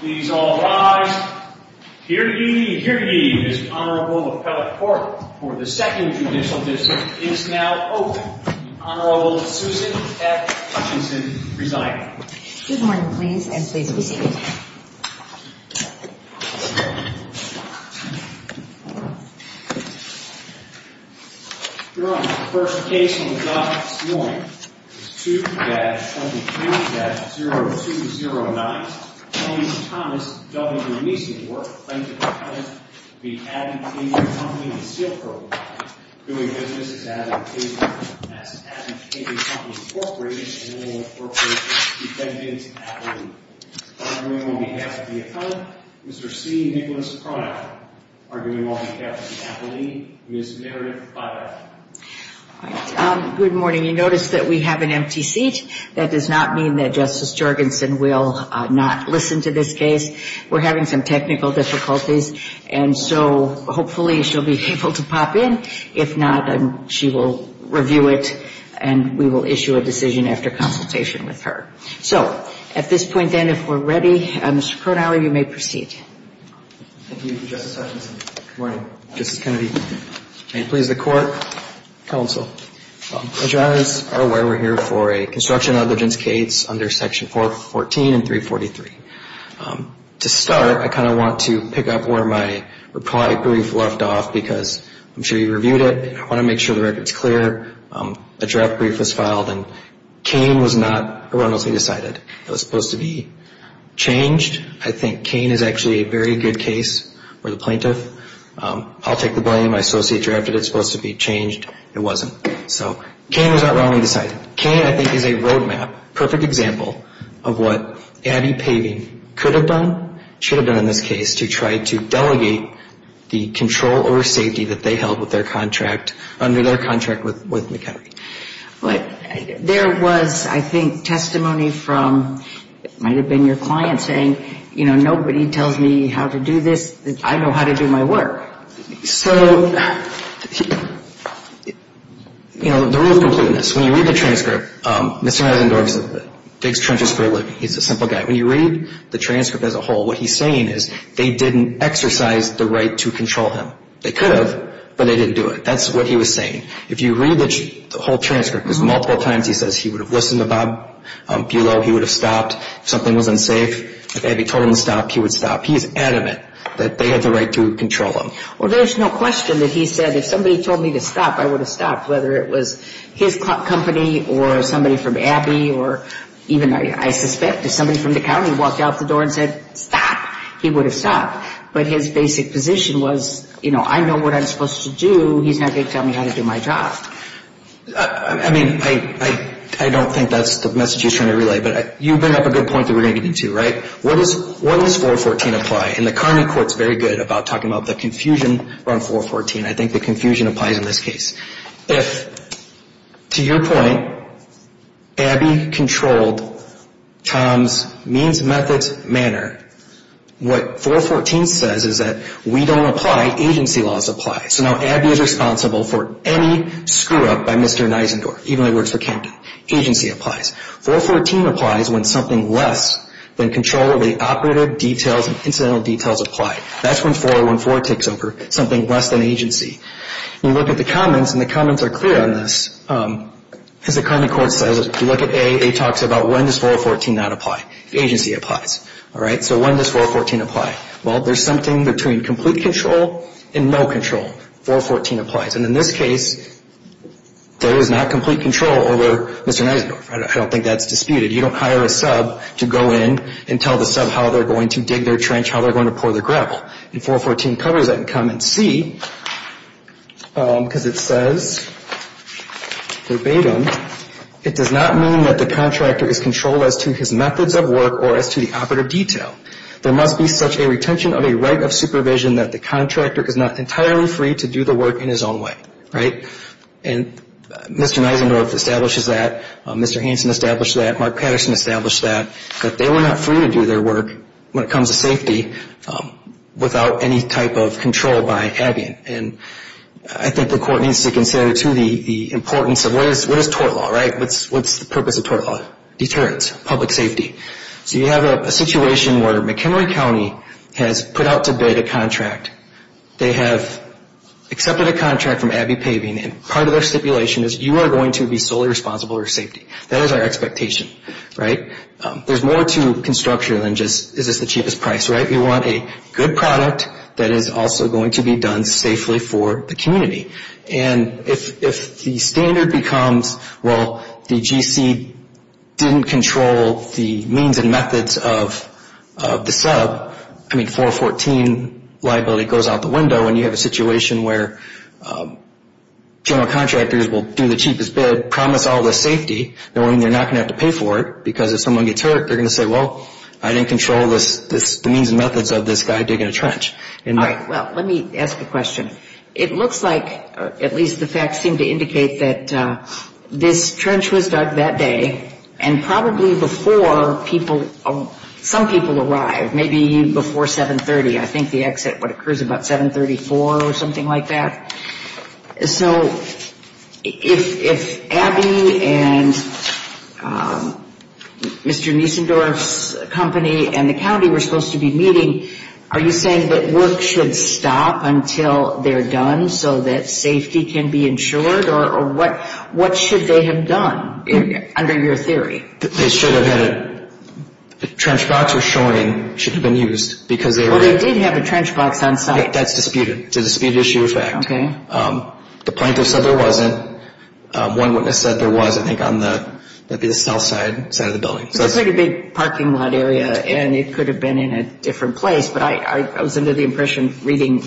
Please all rise. Hear ye, hear ye, this Honorable Appellate Court for the Second Judicial District is now open. The Honorable Susan F. Hutchinson presiding. Good morning, please, and please be seated. Your Honor, the first case on the docket this morning is 2-23-0209, Tony Thomas v. Neisendorf, plaintiff's client, v. Abbey Paving & Sealcoating. Doing business as an appellate, as an appellate in the Appellate Corporation and the Appellate Defendant's Appellate. Arguing on behalf of the Appellant, Mr. C. Nicholas Prada. Arguing on behalf of the Appellate, Ms. Meredith Prada. All right, good morning. You notice that we have an empty seat. That does not mean that Justice Jorgensen will not listen to this case. We're having some technical difficulties, and so hopefully she'll be able to pop in. If not, she will review it, and we will issue a decision after consultation with her. So at this point, then, if we're ready, Mr. Kronhauer, you may proceed. Thank you, Justice Hutchinson. Good morning, Justice Kennedy. May it please the Court, counsel. As you all are aware, we're here for a construction of the Jenskates under Section 414 and 343. To start, I kind of want to pick up where my reply brief left off because I'm sure you reviewed it. I want to make sure the record's clear. A draft brief was filed, and Kane was not erroneously decided. It was supposed to be changed. I think Kane is actually a very good case for the plaintiff. I'll take the blame. My associate drafted it. It's supposed to be changed. It wasn't. So Kane was not erroneously decided. Kane, I think, is a roadmap, perfect example of what Abby Paving could have done, should have done in this case to try to delegate the control over safety that they held with their contract under their contract with McHenry. There was, I think, testimony from it might have been your client saying, you know, nobody tells me how to do this. I know how to do my work. So, you know, the rule of completeness. When you read the transcript, Mr. Eisendorf digs trenches for a living. He's a simple guy. When you read the transcript as a whole, what he's saying is they didn't exercise the right to control him. They could have, but they didn't do it. That's what he was saying. If you read the whole transcript, there's multiple times he says he would have listened to Bob Buelow, he would have stopped. If something was unsafe, if Abby told him to stop, he would stop. He's adamant that they had the right to control him. Well, there's no question that he said if somebody told me to stop, I would have stopped, whether it was his company or somebody from Abby or even, I suspect, if somebody from the county walked out the door and said stop, he would have stopped. But his basic position was, you know, I know what I'm supposed to do. He's not going to tell me how to do my job. I mean, I don't think that's the message he's trying to relay, but you bring up a good point that we're going to get into, right? What does 414 apply? And the county court's very good about talking about the confusion around 414. I think the confusion applies in this case. If, to your point, Abby controlled Tom's means, methods, manner, what 414 says is that we don't apply, agency laws apply. So now Abby is responsible for any screw-up by Mr. Nisendorf, even though he works for Camden. Agency applies. 414 applies when something less than control of the operative details and incidental details apply. That's when 4014 takes over, something less than agency. You look at the comments, and the comments are clear on this. As the county court says, if you look at A, A talks about when does 414 not apply. Agency applies. All right? So when does 414 apply? Well, there's something between complete control and no control. 414 applies. And in this case, there is not complete control over Mr. Nisendorf. I don't think that's disputed. You don't hire a sub to go in and tell the sub how they're going to dig their trench, how they're going to pour their gravel. And 414 covers that in comment C, because it says verbatim, it does not mean that the contractor is controlled as to his methods of work or as to the operative detail. There must be such a retention of a right of supervision that the contractor is not entirely free to do the work in his own way. Right? And Mr. Nisendorf establishes that. Mr. Hanson established that. Mark Patterson established that. But they were not free to do their work when it comes to safety without any type of control by Abbey. And I think the court needs to consider, too, the importance of what is tort law, right? What's the purpose of tort law? Deterrence, public safety. So you have a situation where McHenry County has put out to bid a contract. They have accepted a contract from Abbey Paving, and part of their stipulation is you are going to be solely responsible for safety. That is our expectation, right? There's more to construction than just is this the cheapest price, right? We want a good product that is also going to be done safely for the community. And if the standard becomes, well, the GC didn't control the means and methods of the sub, I mean, 414 liability goes out the window, and you have a situation where general contractors will do the cheapest bid, promise all the safety knowing they're not going to have to pay for it because if someone gets hurt, they're going to say, well, I didn't control the means and methods of this guy digging a trench. All right. Well, let me ask a question. It looks like, at least the facts seem to indicate, that this trench was dug that day and probably before some people arrived, maybe before 730. I think the exit occurs about 734 or something like that. So if Abbey and Mr. Niesendorf's company and the county were supposed to be meeting, are you saying that work should stop until they're done so that safety can be ensured, or what should they have done under your theory? They should have had a trench box or showing should have been used because they were... Well, they did have a trench box on site. That's disputed. It's a disputed issue of fact. Okay. The plaintiffs said there wasn't. One witness said there was, I think, on the south side of the building. It's a pretty big parking lot area, and it could have been in a different place, but I was under the impression reading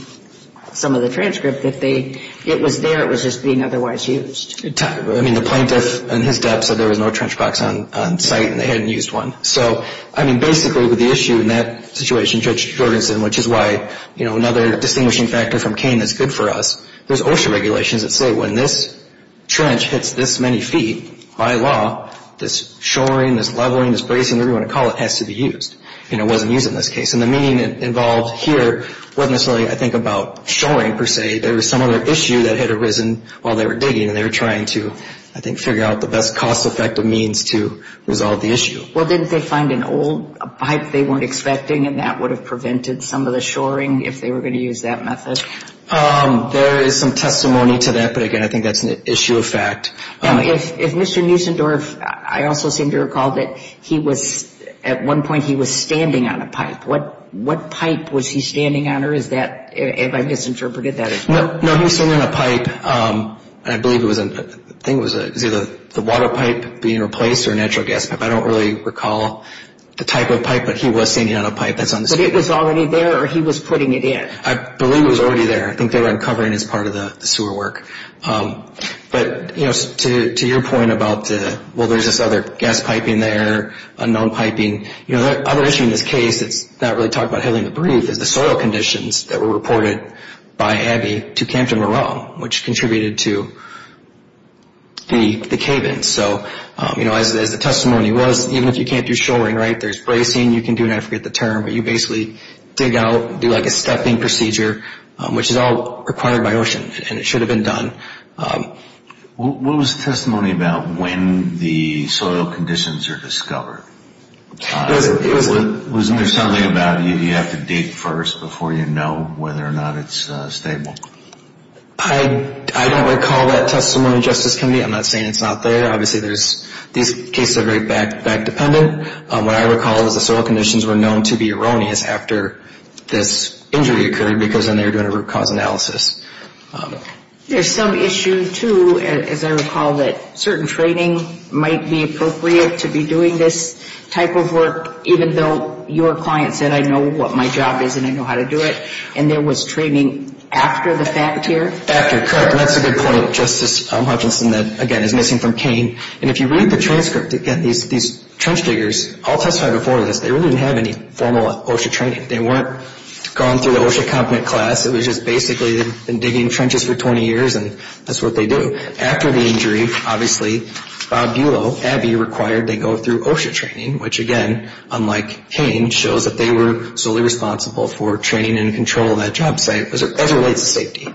some of the transcript that it was there, it was just being otherwise used. I mean, the plaintiff and his dep said there was no trench box on site and they hadn't used one. So, I mean, basically with the issue in that situation, Judge Jorgensen, which is why another distinguishing factor from Kane that's good for us, there's OSHA regulations that say when this trench hits this many feet, by law, this shoring, this leveling, this bracing, whatever you want to call it, has to be used. It wasn't used in this case. And the meaning involved here wasn't necessarily, I think, about shoring per se. There was some other issue that had arisen while they were digging, and they were trying to, I think, figure out the best cost-effective means to resolve the issue. Well, didn't they find an old pipe they weren't expecting, and that would have prevented some of the shoring if they were going to use that method? There is some testimony to that, but, again, I think that's an issue of fact. Now, if Mr. Nussendorf, I also seem to recall that he was, at one point, he was standing on a pipe. What pipe was he standing on, or is that, have I misinterpreted that? No, he was standing on a pipe, and I believe it was, I think it was either the water pipe being replaced or a natural gas pipe. I don't really recall the type of pipe, but he was standing on a pipe that's on the site. But it was already there, or he was putting it in? I believe it was already there. I think they were uncovering it as part of the sewer work. But, you know, to your point about, well, there's this other gas piping there, unknown piping, you know, the other issue in this case that's not really talked about heavily in the brief is the soil conditions that were reported by Abby to Campton-Morone, which contributed to the cave-in. So, you know, as the testimony was, even if you can't do shoring, right, there's bracing, you can do, and I forget the term, but you basically dig out, do like a stepping procedure, which is all required by OSHA, and it should have been done. What was the testimony about when the soil conditions are discovered? Wasn't there something about you have to dig first before you know whether or not it's stable? I don't recall that testimony, Justice Kennedy. I'm not saying it's not there. Obviously, these cases are very back-dependent. What I recall is the soil conditions were known to be erroneous after this injury occurred because then they were doing a root cause analysis. There's some issue, too, as I recall, that certain training might be appropriate to be doing this type of work, even though your client said, I know what my job is and I know how to do it, and there was training after the fact here? After, correct, and that's a good point, Justice Hutchinson, that, again, is missing from Kane. And if you read the transcript, again, these trench diggers all testified before this, they really didn't have any formal OSHA training. They weren't going through the OSHA competent class. It was just basically they'd been digging trenches for 20 years, and that's what they do. After the injury, obviously, Bob Buelow, Abby, required they go through OSHA training, which, again, unlike Kane, shows that they were solely responsible for training and control of that job site as it relates to safety.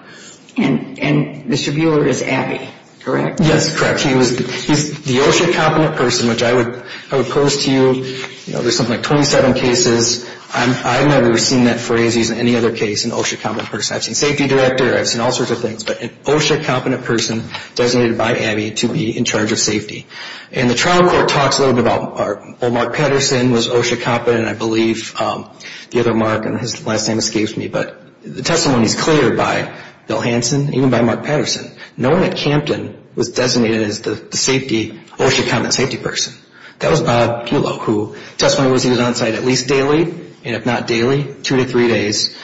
And Mr. Buelow is Abby, correct? Yes, correct. He's the OSHA competent person, which I would pose to you. There's something like 27 cases. I've never seen that phrase used in any other case, an OSHA competent person. I've seen safety director. I've seen all sorts of things, but an OSHA competent person designated by Abby to be in charge of safety. And the trial court talks a little bit about, well, Mark Patterson was OSHA competent, I believe. The other Mark and his last name escapes me, but the testimony is cleared by Bill Hanson, even by Mark Patterson. No one at Campton was designated as the safety OSHA competent safety person. That was Bob Buelow, who testimony was used on site at least daily, and if not daily, two to three days.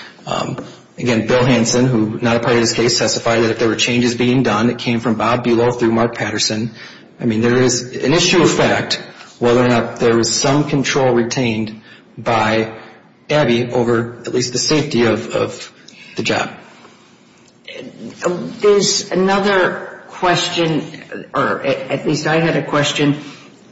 Again, Bill Hanson, who was not a part of this case, testified that if there were changes being done, it came from Bob Buelow through Mark Patterson. I mean, there is an issue of fact whether or not there was some control retained by Abby over at least the safety of the job. There's another question, or at least I had a question.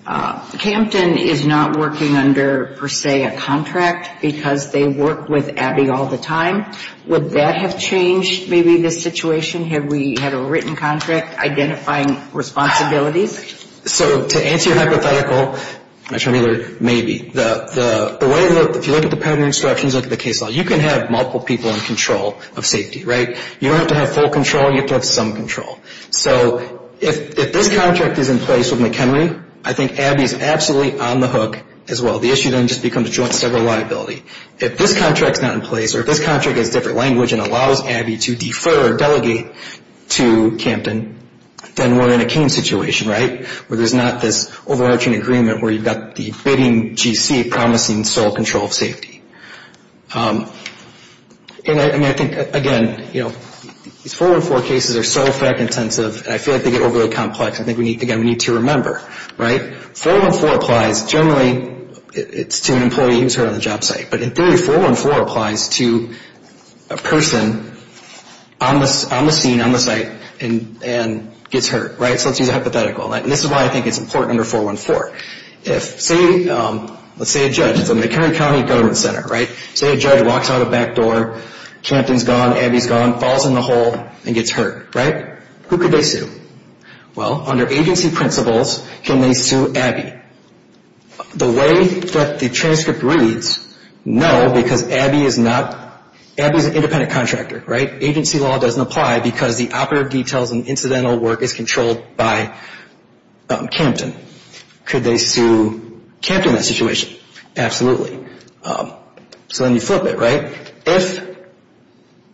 Campton is not working under, per se, a contract because they work with Abby all the time. Would that have changed maybe the situation? Have we had a written contract identifying responsibilities? So to answer your hypothetical, Mr. Mueller, maybe. If you look at the pattern instructions, look at the case law, you can have multiple people in control of safety, right? You don't have to have full control. You have to have some control. So if this contract is in place with McHenry, I think Abby is absolutely on the hook as well. The issue then just becomes joint sever liability. If this contract is not in place or if this contract has different language and allows Abby to defer or delegate to Campton, then we're in a Kane situation, right, where there's not this overarching agreement where you've got the bidding GC promising sole control of safety. And I think, again, these 414 cases are so fact-intensive and I feel like they get overly complex. I think, again, we need to remember, right? 414 applies generally to an employee who's hurt on the job site. But in theory, 414 applies to a person on the scene, on the site, and gets hurt, right? So let's use a hypothetical. And this is why I think it's important under 414. If, say, let's say a judge. It's a McHenry County Government Center, right? Say a judge walks out a back door. Campton's gone. Abby's gone. Falls in the hole and gets hurt, right? Who could they sue? Well, under agency principles, can they sue Abby? The way that the transcript reads, no, because Abby is an independent contractor, right? Agency law doesn't apply because the operative details and incidental work is controlled by Campton. Could they sue Campton in that situation? Absolutely. So then you flip it, right? If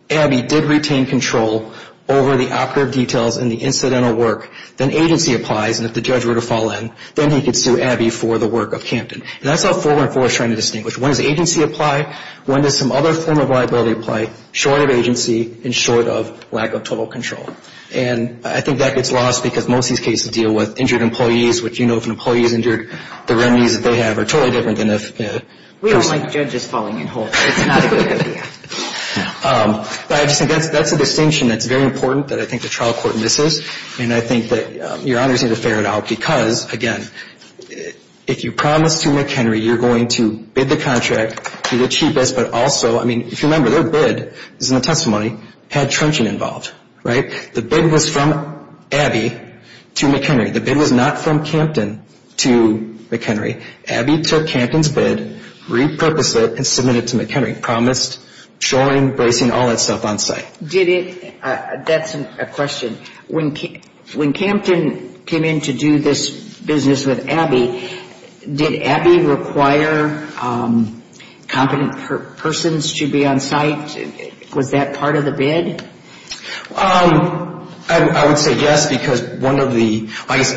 Abby did retain control over the operative details and the incidental work, then agency applies, and if the judge were to fall in, then he could sue Abby for the work of Campton. And that's how 414 is trying to distinguish. When does agency apply? When does some other form of liability apply, short of agency and short of lack of total control? And I think that gets lost because most of these cases deal with injured employees, which you know if an employee is injured, the remedies that they have are totally different than if a person. We don't like judges falling in holes. It's not a good idea. But I just think that's a distinction that's very important that I think the trial court misses. And I think that your honors need to figure it out because, again, if you promise to McHenry you're going to bid the contract, be the cheapest, but also, I mean, if you remember, their bid, this is in the testimony, had trenching involved, right? The bid was from Abby to McHenry. The bid was not from Campton to McHenry. Abby took Campton's bid, repurposed it, and submitted it to McHenry, promised showing, bracing, all that stuff on site. Did it – that's a question. When Campton came in to do this business with Abby, did Abby require competent persons to be on site? Was that part of the bid? I would say yes because one of the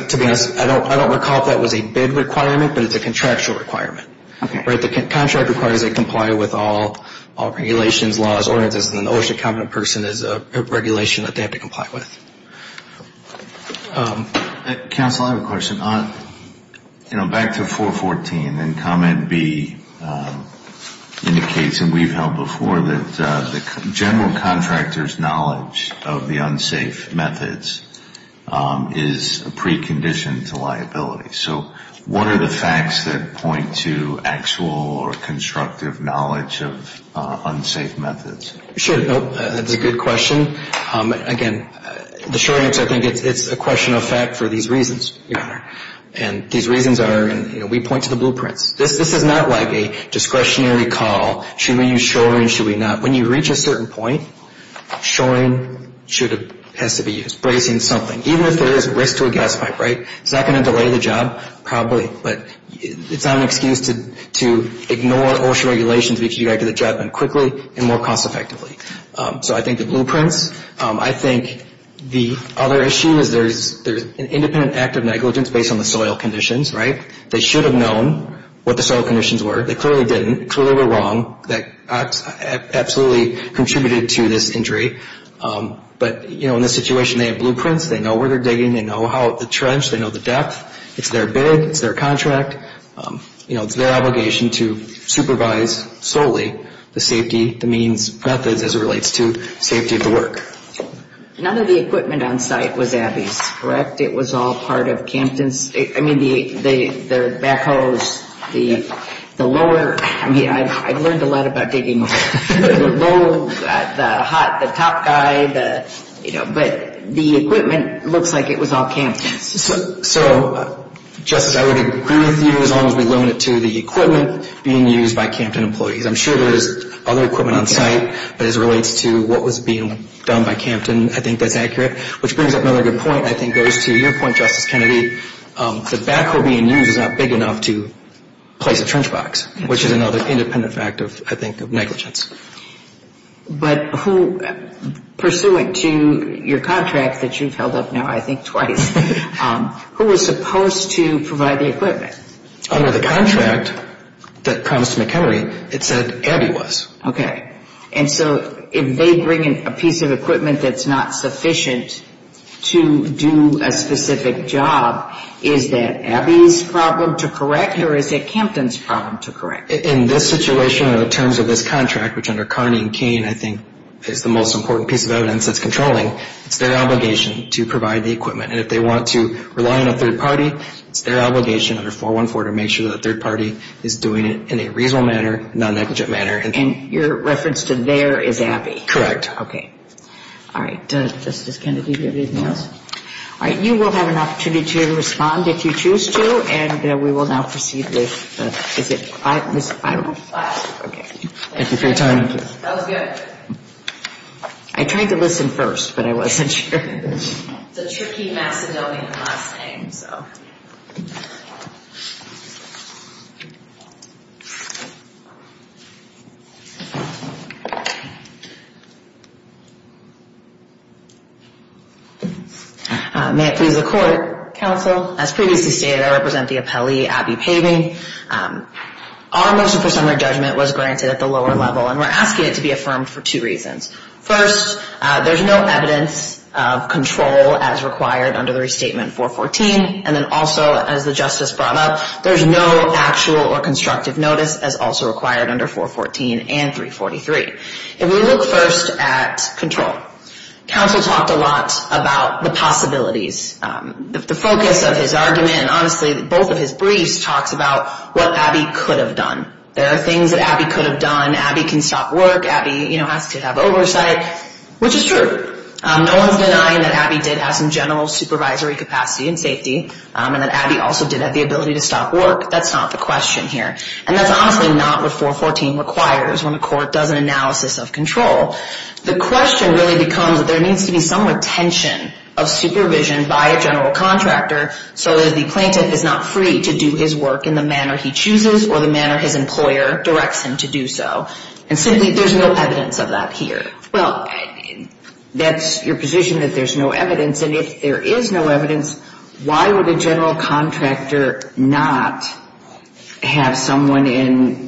– to be honest, I don't recall if that was a bid requirement, but it's a contractual requirement. Okay. Right. The contract requires they comply with all regulations, laws, ordinances, and an OSHA-competent person is a regulation that they have to comply with. Counsel, I have a question. You know, back to 414, and Comment B indicates, and we've held before, that the general contractor's knowledge of the unsafe methods is a precondition to liability. So what are the facts that point to actual or constructive knowledge of unsafe methods? Sure. That's a good question. Again, the short answer, I think it's a question of fact for these reasons, Your Honor. And these reasons are, you know, we point to the blueprints. This is not like a discretionary call. Should we use shoring, should we not? When you reach a certain point, shoring should – has to be used. Bracing is something. Even if there is risk to a gas pipe, right, it's not going to delay the job probably, but it's not an excuse to ignore OSHA regulations to make sure you get back to the job quickly and more cost-effectively. So I think the blueprints. I think the other issue is there's an independent act of negligence based on the soil conditions, right? They should have known what the soil conditions were. They clearly didn't. They clearly were wrong. That absolutely contributed to this injury. But, you know, in this situation, they have blueprints. They know where they're digging. They know the trench. They know the depth. It's their bid. It's their contract. You know, it's their obligation to supervise solely the safety, the means, methods as it relates to safety of the work. None of the equipment on site was Abby's, correct? It was all part of Campton's – I mean, their backhoes, the lower – I mean, I learned a lot about digging. The low, the hot, the top guy, you know, but the equipment looks like it was all Campton's. So, Justice, I would agree with you as long as we limit it to the equipment being used by Campton employees. I'm sure there is other equipment on site, but as it relates to what was being done by Campton, I think that's accurate, which brings up another good point. I think it goes to your point, Justice Kennedy. The backhoe being used is not big enough to place a trench box, which is another independent fact, I think, of negligence. But who – pursuant to your contract that you've held up now I think twice, who was supposed to provide the equipment? Under the contract that promised to McHenry, it said Abby was. Okay. And so if they bring in a piece of equipment that's not sufficient to do a specific job, is that Abby's problem to correct or is it Campton's problem to correct? In this situation, in terms of this contract, which under Carney and Cain, I think is the most important piece of evidence that's controlling, it's their obligation to provide the equipment. And if they want to rely on a third party, it's their obligation under 414 to make sure that the third party is doing it in a reasonable manner, non-negligent manner. And your reference to there is Abby? Correct. Okay. All right. Justice Kennedy, do you have anything else? No. All right. You will have an opportunity to respond if you choose to. And we will now proceed with – is it – I don't know. Okay. Thank you for your time. That was good. I tried to listen first, but I wasn't sure. It's a tricky Macedonian last name, so. May it please the Court, Counsel. As previously stated, I represent the appellee, Abby Paving. Our motion for summary judgment was granted at the lower level, and we're asking it to be affirmed for two reasons. First, there's no evidence of control as required under the restatement 414, has a right to have the equipment. Also, as the Justice brought up, there's no actual or constructive notice as also required under 414 and 343. If we look first at control, Counsel talked a lot about the possibilities. The focus of his argument, and honestly both of his briefs, talks about what Abby could have done. There are things that Abby could have done. Abby can stop work. Abby, you know, has to have oversight, which is true. No one's denying that Abby did have some general supervisory capacity and safety, and that Abby also did have the ability to stop work. That's not the question here. And that's honestly not what 414 requires when the Court does an analysis of control. The question really becomes that there needs to be some retention of supervision by a general contractor so that the plaintiff is not free to do his work in the manner he chooses or the manner his employer directs him to do so. And simply, there's no evidence of that here. Well, that's your position that there's no evidence, and if there is no evidence, why would a general contractor not have someone in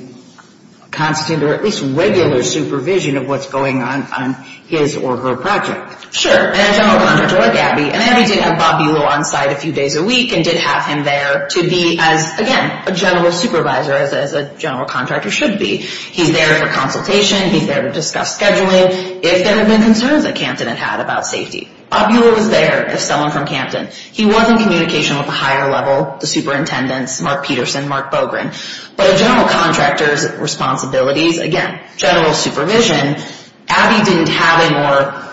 constant or at least regular supervision of what's going on on his or her project? Sure, and a general contractor like Abby, and Abby did have Bob Bulow on site a few days a week and did have him there to be, again, a general supervisor, as a general contractor should be. He's there for consultation, he's there to discuss scheduling if there have been concerns that Campton had had about safety. Bob Bulow was there as someone from Campton. He was in communication with the higher level, the superintendents, Mark Peterson, Mark Bogren. But a general contractor's responsibilities, again, general supervision, Abby didn't have a more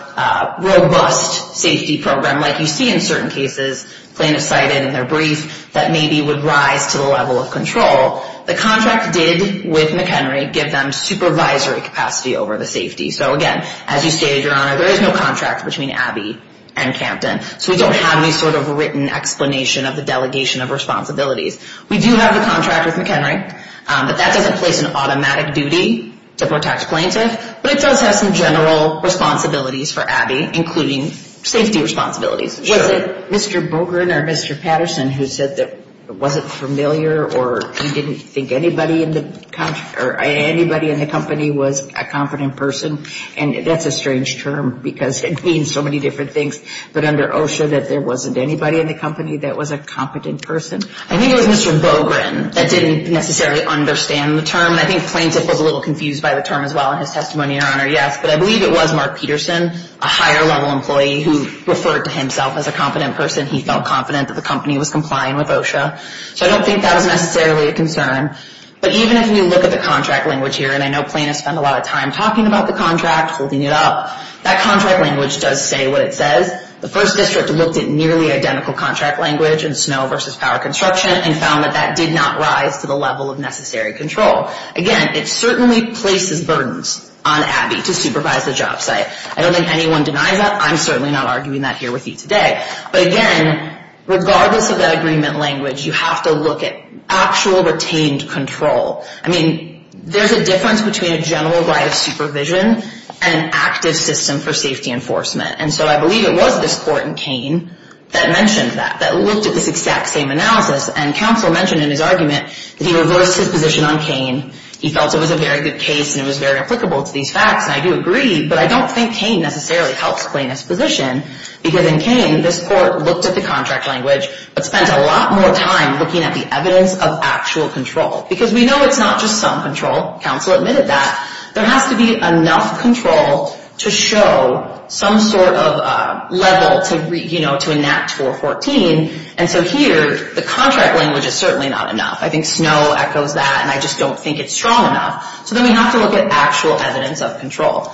robust safety program like you see in certain cases, plaintiff cited in their brief, that maybe would rise to the level of control. The contract did, with McHenry, give them supervisory capacity over the safety. So, again, as you stated, Your Honor, there is no contract between Abby and Campton, so we don't have any sort of written explanation of the delegation of responsibilities. We do have the contract with McHenry, but that doesn't place an automatic duty to protect plaintiff, but it does have some general responsibilities for Abby, including safety responsibilities. Was it Mr. Bogren or Mr. Patterson who said that it wasn't familiar or he didn't think anybody in the company was a competent person? And that's a strange term because it means so many different things. But under OSHA, that there wasn't anybody in the company that was a competent person? I think it was Mr. Bogren that didn't necessarily understand the term. I think plaintiff was a little confused by the term as well in his testimony, Your Honor, yes. But I believe it was Mark Peterson, a higher level employee, who referred to himself as a competent person. He felt confident that the company was complying with OSHA. So I don't think that was necessarily a concern. But even if you look at the contract language here, and I know plaintiffs spend a lot of time talking about the contract, holding it up, that contract language does say what it says. The first district looked at nearly identical contract language in snow versus power construction and found that that did not rise to the level of necessary control. Again, it certainly places burdens on Abby to supervise the job site. I don't think anyone denies that. I'm certainly not arguing that here with you today. But again, regardless of that agreement language, you have to look at actual retained control. I mean, there's a difference between a general right of supervision and active system for safety enforcement. And so I believe it was this court in Kane that mentioned that, that looked at this exact same analysis. And counsel mentioned in his argument that he reversed his position on Kane. He felt it was a very good case and it was very applicable to these facts. And I do agree, but I don't think Kane necessarily helps plaintiff's position because in Kane, this court looked at the contract language but spent a lot more time looking at the evidence of actual control. Because we know it's not just some control. Counsel admitted that. There has to be enough control to show some sort of level to enact 414. And so here, the contract language is certainly not enough. I think snow echoes that and I just don't think it's strong enough. So then we have to look at actual evidence of control.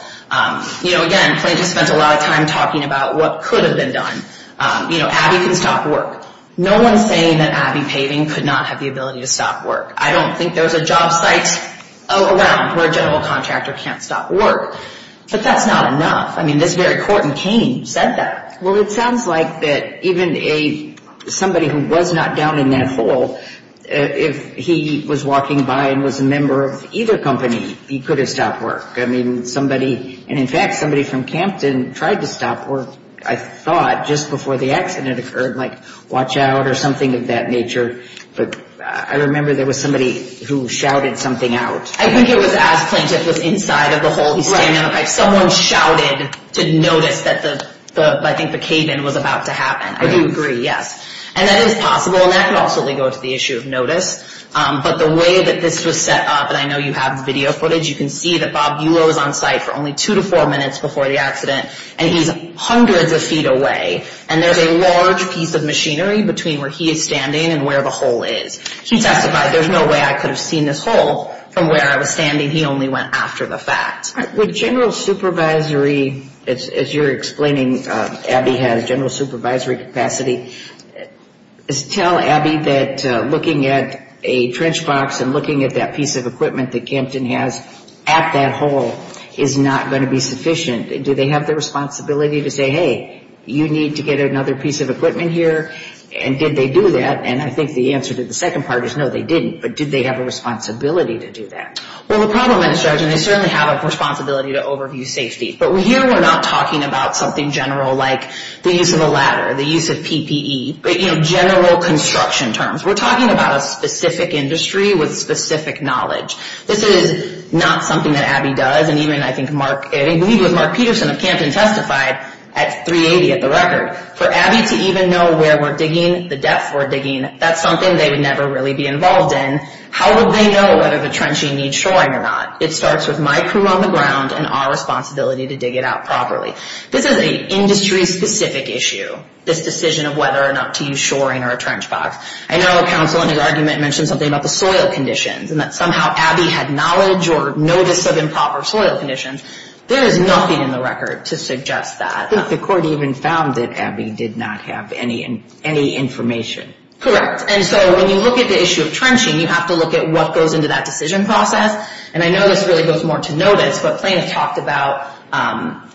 You know, again, plaintiff spent a lot of time talking about what could have been done. You know, Abby can stop work. No one's saying that Abby Paving could not have the ability to stop work. I don't think there's a job site around where a general contractor can't stop work. But that's not enough. I mean, this very court in Kane said that. Well, it sounds like that even somebody who was not down in that hole, if he was walking by and was a member of either company, he could have stopped work. I mean, somebody, and in fact, somebody from Campton tried to stop work, I thought, just before the accident occurred, like watch out or something of that nature. But I remember there was somebody who shouted something out. I think it was as plaintiff was inside of the hole. Someone shouted to notice that I think the cave-in was about to happen. I do agree, yes. And that is possible and that could also go to the issue of notice. But the way that this was set up, and I know you have video footage, you can see that Bob Buelow is on site for only two to four minutes before the accident, and he's hundreds of feet away. And there's a large piece of machinery between where he is standing and where the hole is. He testified, there's no way I could have seen this hole from where I was standing. He only went after the fact. Would general supervisory, as you're explaining, Abby has general supervisory capacity, tell Abby that looking at a trench box and looking at that piece of equipment that Campton has at that hole is not going to be sufficient? Do they have the responsibility to say, hey, you need to get another piece of equipment here? And did they do that? And I think the answer to the second part is no, they didn't. But did they have a responsibility to do that? Well, the problem is, Judge, and they certainly have a responsibility to overview safety. But, you know, general construction terms. We're talking about a specific industry with specific knowledge. This is not something that Abby does, and even I think Mark, I believe it was Mark Peterson of Campton testified at 380 at the record. For Abby to even know where we're digging, the depth we're digging, that's something they would never really be involved in. How would they know whether the trenching needs shoring or not? It starts with my crew on the ground and our responsibility to dig it out properly. This is an industry-specific issue, this decision of whether or not to use shoring or a trench box. I know counsel in his argument mentioned something about the soil conditions and that somehow Abby had knowledge or notice of improper soil conditions. There is nothing in the record to suggest that. I think the court even found that Abby did not have any information. Correct. And so when you look at the issue of trenching, you have to look at what goes into that decision process. And I know this really goes more to notice, but plaintiffs talked about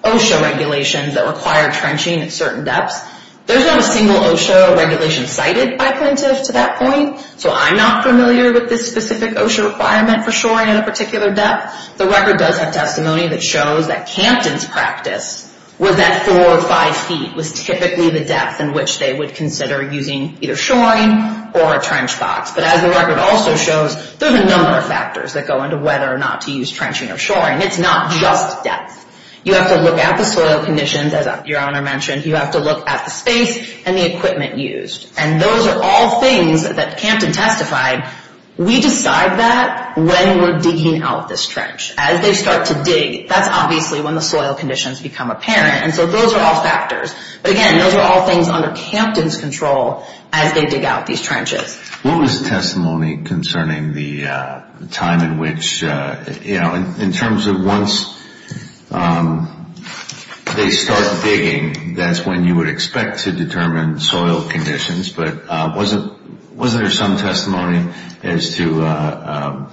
OSHA regulations that require trenching at certain depths. There's not a single OSHA regulation cited by plaintiffs to that point, so I'm not familiar with this specific OSHA requirement for shoring at a particular depth. The record does have testimony that shows that Campton's practice was that four or five feet was typically the depth in which they would consider using either shoring or a trench box. But as the record also shows, there's a number of factors that go into whether or not to use trenching or shoring. It's not just depth. You have to look at the soil conditions, as your Honor mentioned. You have to look at the space and the equipment used. And those are all things that Campton testified. We decide that when we're digging out this trench. As they start to dig, that's obviously when the soil conditions become apparent. And so those are all factors. But again, those are all things under Campton's control as they dig out these trenches. What was the testimony concerning the time in which, you know, in terms of once they start digging, that's when you would expect to determine soil conditions. But was there some testimony as to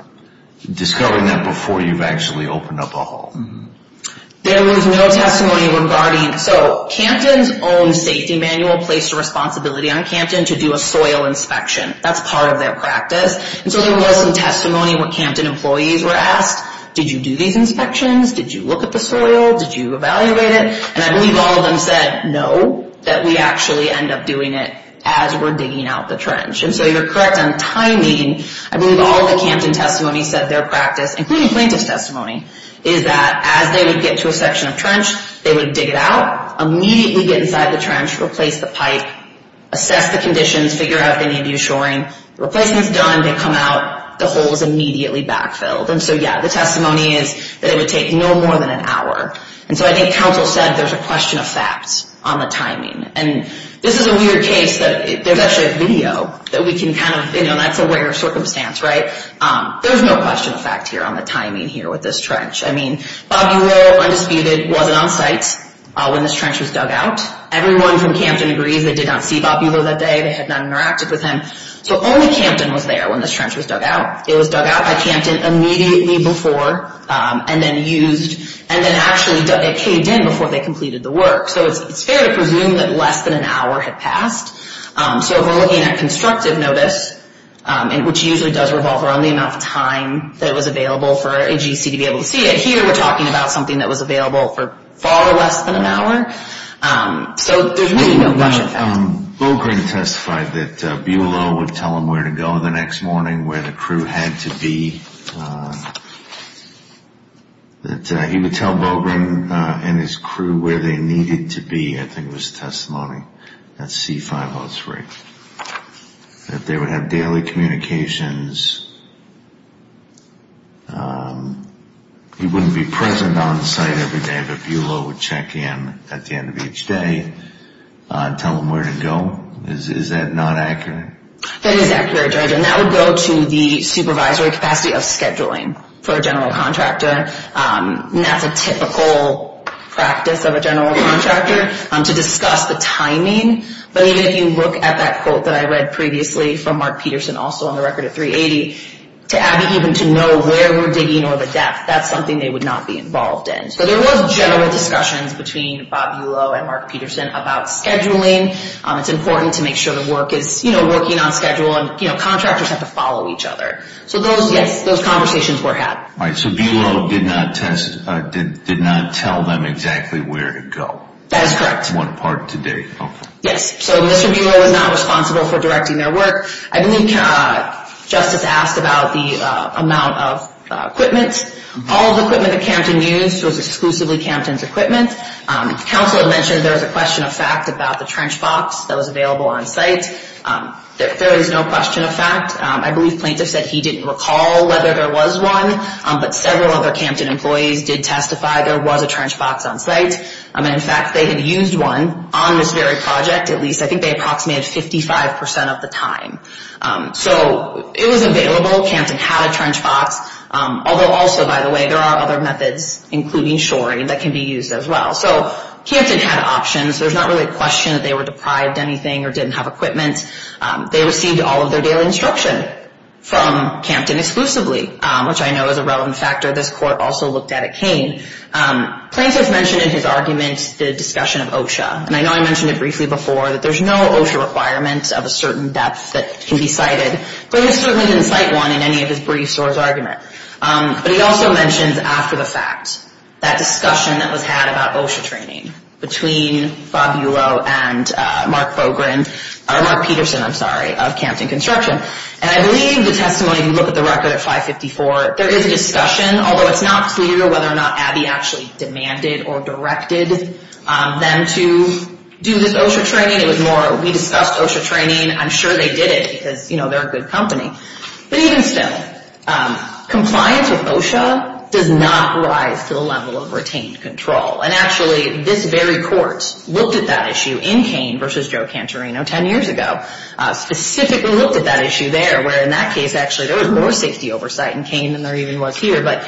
discovering that before you've actually opened up a hole? There was no testimony regarding... So, Campton's own safety manual placed a responsibility on Campton to do a soil inspection. That's part of their practice. And so there was some testimony when Campton employees were asked, did you do these inspections? Did you look at the soil? Did you evaluate it? And I believe all of them said no, that we actually end up doing it as we're digging out the trench. And so you're correct on timing. I believe all of the Campton testimony said their practice, including plaintiff's testimony, is that as they would get to a section of trench, they would dig it out, immediately get inside the trench, replace the pipe, assess the conditions, figure out if they need to do shoring. Replacement's done. They come out. The hole is immediately backfilled. And so, yeah, the testimony is that it would take no more than an hour. And so I think counsel said there's a question of facts on the timing. And this is a weird case that there's actually a video that we can kind of, you know, that's a rare circumstance, right? There's no question of fact here on the timing here with this trench. I mean, Bobulo, undisputed, wasn't on site when this trench was dug out. Everyone from Campton agrees they did not see Bobulo that day. They had not interacted with him. So only Campton was there when this trench was dug out. It was dug out by Campton immediately before and then used, and then actually it caved in before they completed the work. So it's fair to presume that less than an hour had passed. So if we're looking at constructive notice, which usually does revolve around the amount of time that was available for AGC to be able to see it, here we're talking about something that was available for far less than an hour. So there's really no question of fact. Bobulo testified that Bobulo would tell him where to go the next morning, where the crew had to be, that he would tell Bobulo and his crew where they needed to be. I think it was testimony. That's C-5 Osprey. That they would have daily communications. He wouldn't be present on site every day, but Bobulo would check in at the end of each day and tell them where to go. Is that not accurate? That is accurate, George, and that would go to the supervisory capacity of scheduling for a general contractor. That's a typical practice of a general contractor, to discuss the timing. But even if you look at that quote that I read previously from Mark Peterson, also on the record at 380, to Abby, even to know where we're digging or the depth, that's something they would not be involved in. So there was general discussions between Bobulo and Mark Peterson about scheduling. It's important to make sure the work is working on schedule, and contractors have to follow each other. So those conversations were had. All right. So Bobulo did not tell them exactly where to go. That is correct. One part to date. Yes. So Mr. Bobulo was not responsible for directing their work. I believe Justice asked about the amount of equipment. All of the equipment that Campton used was exclusively Campton's equipment. Counselor mentioned there was a question of fact about the trench box that was available on site. There is no question of fact. I believe Plaintiff said he didn't recall whether there was one, but several other Campton employees did testify there was a trench box on site. In fact, they had used one on this very project. At least I think they approximated 55% of the time. So it was available. Campton had a trench box. Although also, by the way, there are other methods, including shoring, that can be used as well. So Campton had options. There's not really a question that they were deprived of anything or didn't have equipment. They received all of their daily instruction from Campton exclusively, which I know is a relevant factor this Court also looked at at Kane. Plaintiff mentioned in his argument the discussion of OSHA. And I know I mentioned it briefly before that there's no OSHA requirement of a certain depth that can be cited. Plaintiff certainly didn't cite one in any of his briefs or his argument. But he also mentions after the fact, that discussion that was had about OSHA training between Fabulo and Mark Fogren, or Mark Peterson, I'm sorry, of Campton Construction. And I believe the testimony, if you look at the record at 554, there is a discussion, although it's not clear whether or not Abby actually demanded or directed them to do this OSHA training. It was more, we discussed OSHA training. I'm sure they did it because, you know, they're a good company. But even still, compliance with OSHA does not rise to the level of retained control. And actually, this very Court looked at that issue in Kane versus Joe Cantorino 10 years ago. Specifically looked at that issue there, where in that case, actually, there was more safety oversight in Kane than there even was here. But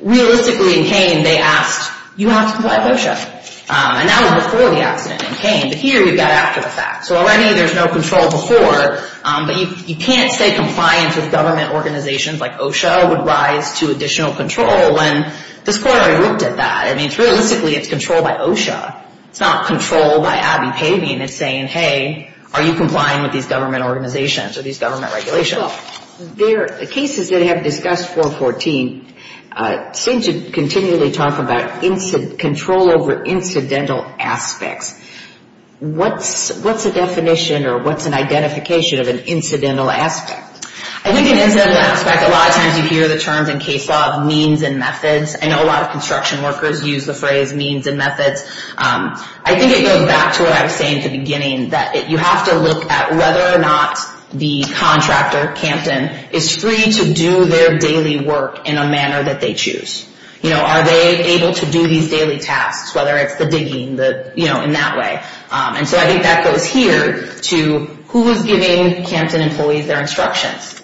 realistically in Kane, they asked, you have to comply with OSHA. And that was before the accident in Kane. But here you've got after the fact. So already there's no control before. But you can't say compliance with government organizations like OSHA would rise to additional control when this Court already looked at that. I mean, realistically, it's control by OSHA. It's not control by Abby Pavin. It's saying, hey, are you complying with these government organizations or these government regulations? Well, the cases that have discussed 414 seem to continually talk about control over incidental aspects. What's the definition or what's an identification of an incidental aspect? I think an incidental aspect, a lot of times you hear the terms in case law, means and methods. I know a lot of construction workers use the phrase means and methods. I think it goes back to what I was saying at the beginning, that you have to look at whether or not the contractor, Campton, is free to do their daily work in a manner that they choose. You know, are they able to do these daily tasks, whether it's the digging, you know, in that way. And so I think that goes here to who is giving Campton employees their instructions?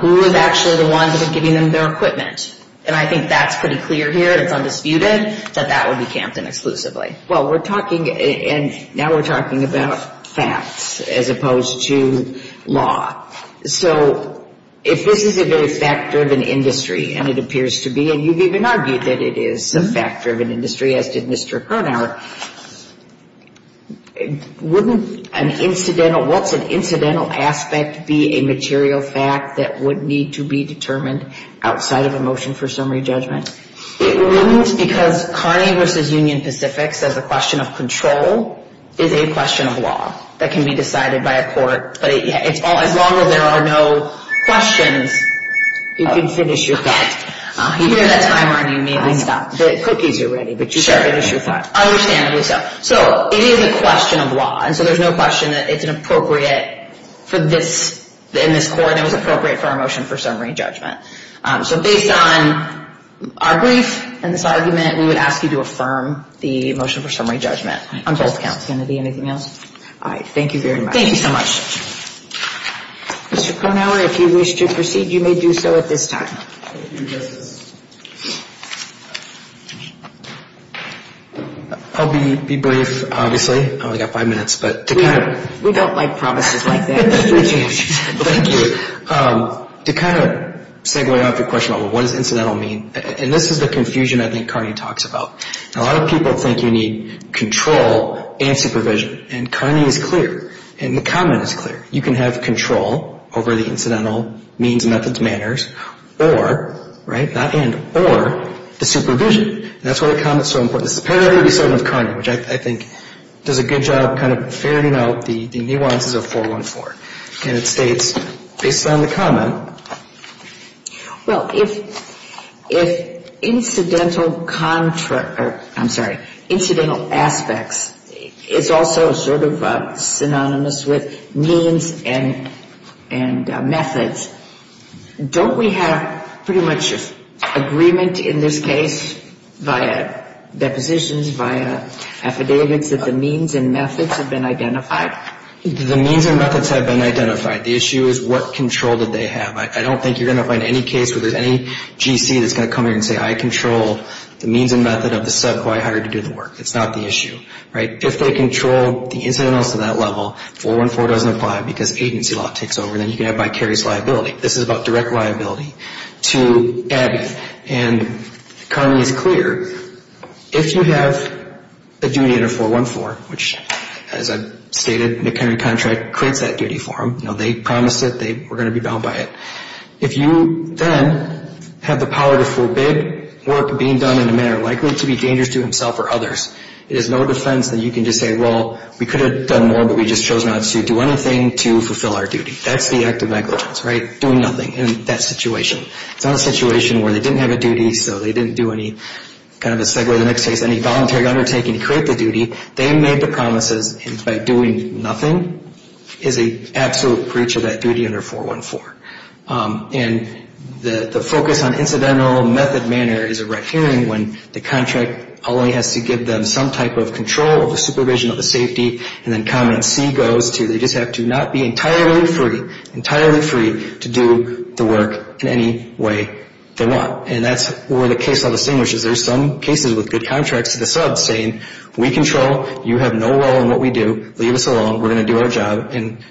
Who is actually the ones that are giving them their equipment? And I think that's pretty clear here. It's undisputed that that would be Campton exclusively. Well, we're talking, and now we're talking about facts as opposed to law. So if this is a very fact-driven industry, and it appears to be, and you've even argued that it is a fact-driven industry, as did Mr. Kernauer, wouldn't an incidental, what's an incidental aspect be a material fact that would need to be determined outside of a motion for summary judgment? It wouldn't, because Carney v. Union Pacific says a question of control is a question of law that can be decided by a court. But as long as there are no questions, you can finish your thought. Here's a timer, and you may need to stop. The cookies are ready, but you can finish your thought. Understandably so. So it is a question of law. And so there's no question that it's an appropriate for this, in this court, and it was appropriate for our motion for summary judgment. So based on our brief and this argument, we would ask you to affirm the motion for summary judgment on both counts. Is there going to be anything else? All right. Thank you very much. Thank you so much. Mr. Kernauer, if you wish to proceed, you may do so at this time. Thank you, Justice. I'll be brief, obviously. I've only got five minutes. We don't like promises like that. Thank you. To kind of segue off your question about what does incidental mean, and this is the confusion I think Carney talks about. A lot of people think you need control and supervision, and Carney is clear, and the comment is clear. You can have control over the incidental means, methods, manners, or the supervision. That's why the comment is so important. It's apparently the same with Carney, which I think does a good job kind of fairing out the nuances of 414. And it states, based on the comment. Well, if incidental aspects is also sort of synonymous with means and methods, don't we have pretty much agreement in this case via depositions, via affidavits that the means and methods have been identified? The means and methods have been identified. The issue is what control did they have. I don't think you're going to find any case where there's any GC that's going to come in and say I control the means and method of the sub who I hired to do the work. That's not the issue. If they control the incidentals to that level, 414 doesn't apply because agency law takes over, and then you can have vicarious liability. This is about direct liability to Abby. And Carney is clear. If you have a duty under 414, which, as I've stated, McKinney contract creates that duty for them. They promised it. They were going to be bound by it. If you then have the power to forbid work being done in a manner likely to be dangerous to himself or others, it is no defense that you can just say, well, we could have done more, but we just chose not to do anything to fulfill our duty. That's the act of negligence, right, doing nothing in that situation. It's not a situation where they didn't have a duty, so they didn't do any kind of a segue to the next case, any voluntary undertaking to create the duty. They made the promises, and by doing nothing is an absolute breach of that duty under 414. And the focus on incidental method manner is a right-hearing one. The contract only has to give them some type of control of the supervision of the safety, and then comment C goes to they just have to not be entirely free, entirely free to do the work in any way they want. And that's where the case all distinguishes. There's some cases with good contracts to the sub saying we control, you have no role in what we do, leave us alone, we're going to do our job, and,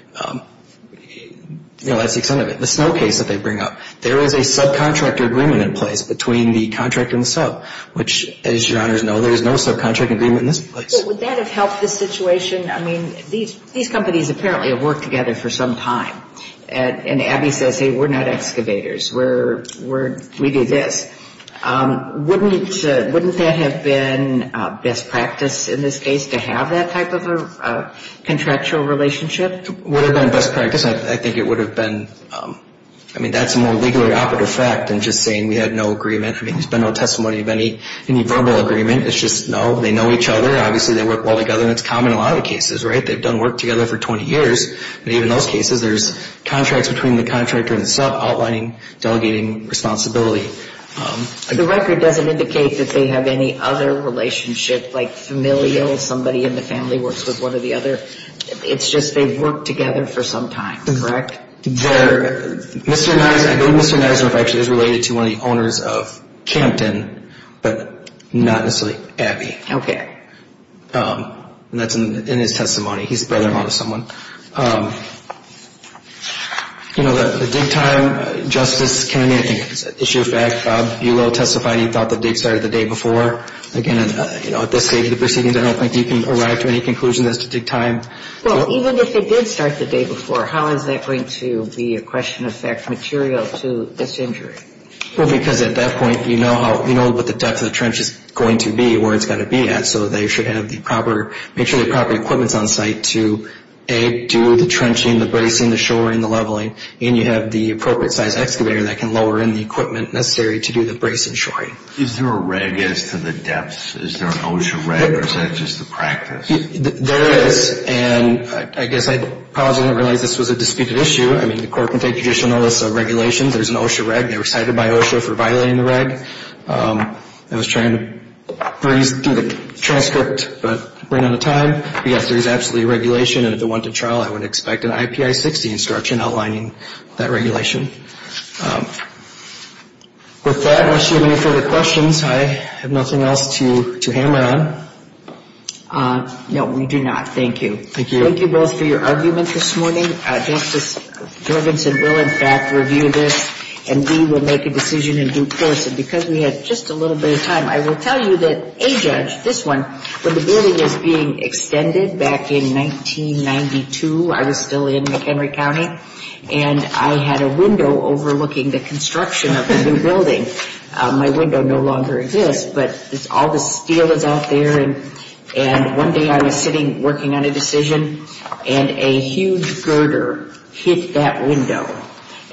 you know, that's the extent of it. The Snow case that they bring up, there is a subcontractor agreement in place between the contractor and the sub, which, as your honors know, there is no subcontractor agreement in this place. So would that have helped the situation? I mean, these companies apparently have worked together for some time. And Abby says, hey, we're not excavators, we do this. Wouldn't that have been best practice in this case to have that type of a contractual relationship? It would have been best practice. I think it would have been. I mean, that's a more legally operative fact than just saying we had no agreement. I mean, there's been no testimony of any verbal agreement. It's just, no, they know each other. Obviously, they work well together, and it's common in a lot of cases, right? They've done work together for 20 years. And even in those cases, there's contracts between the contractor and the sub, outlining, delegating responsibility. The record doesn't indicate that they have any other relationship, like familial, somebody in the family works with one or the other. It's just they've worked together for some time, correct? I believe Mr. Nisnerff actually is related to one of the owners of Campton, but not necessarily Abby. Okay. And that's in his testimony. He's the brother-in-law to someone. You know, the dig time, Justice Kennedy, I think it's a issue of fact, Bob Buelow testified he thought the dig started the day before. Again, at this stage of the proceedings, I don't think you can arrive to any conclusion as to dig time. Well, even if it did start the day before, how is that going to be a question of fact material to this injury? Well, because at that point, you know what the depth of the trench is going to be, where it's got to be at, so they should have the proper, make sure the proper equipment is on site to, A, do the trenching, the bracing, the shoring, the leveling, and you have the appropriate size excavator that can lower in the equipment necessary to do the bracing and shoring. Is there a reg as to the depths? Is there an OSHA reg, or is that just the practice? There is, and I guess I probably didn't realize this was a disputed issue. I mean, the court can take traditionalist regulations. There's an OSHA reg. They were cited by OSHA for violating the reg. I was trying to breeze through the transcript, but ran out of time. Yes, there is absolutely regulation, and at the wanted trial, I would expect an IPI-60 instruction outlining that regulation. With that, unless you have any further questions, I have nothing else to hammer on. No, we do not. Thank you. Thank you both for your argument this morning. Justice Jorgensen will, in fact, review this, and we will make a decision in due course. And because we had just a little bit of time, I will tell you that, A, Judge, this one, when the building was being extended back in 1992, I was still in McHenry County, and my window no longer exists, but all the steel is out there. And one day I was sitting working on a decision, and a huge girder hit that window.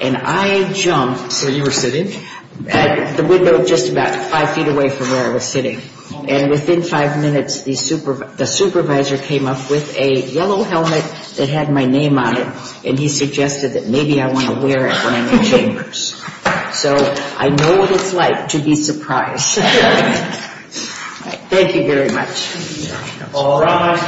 And I jumped. So you were sitting? The window was just about five feet away from where I was sitting. And within five minutes, the supervisor came up with a yellow helmet that had my name on it, and he suggested that maybe I want to wear it when I'm in chambers. So I know what it's like to be surprised. Thank you very much. All rise.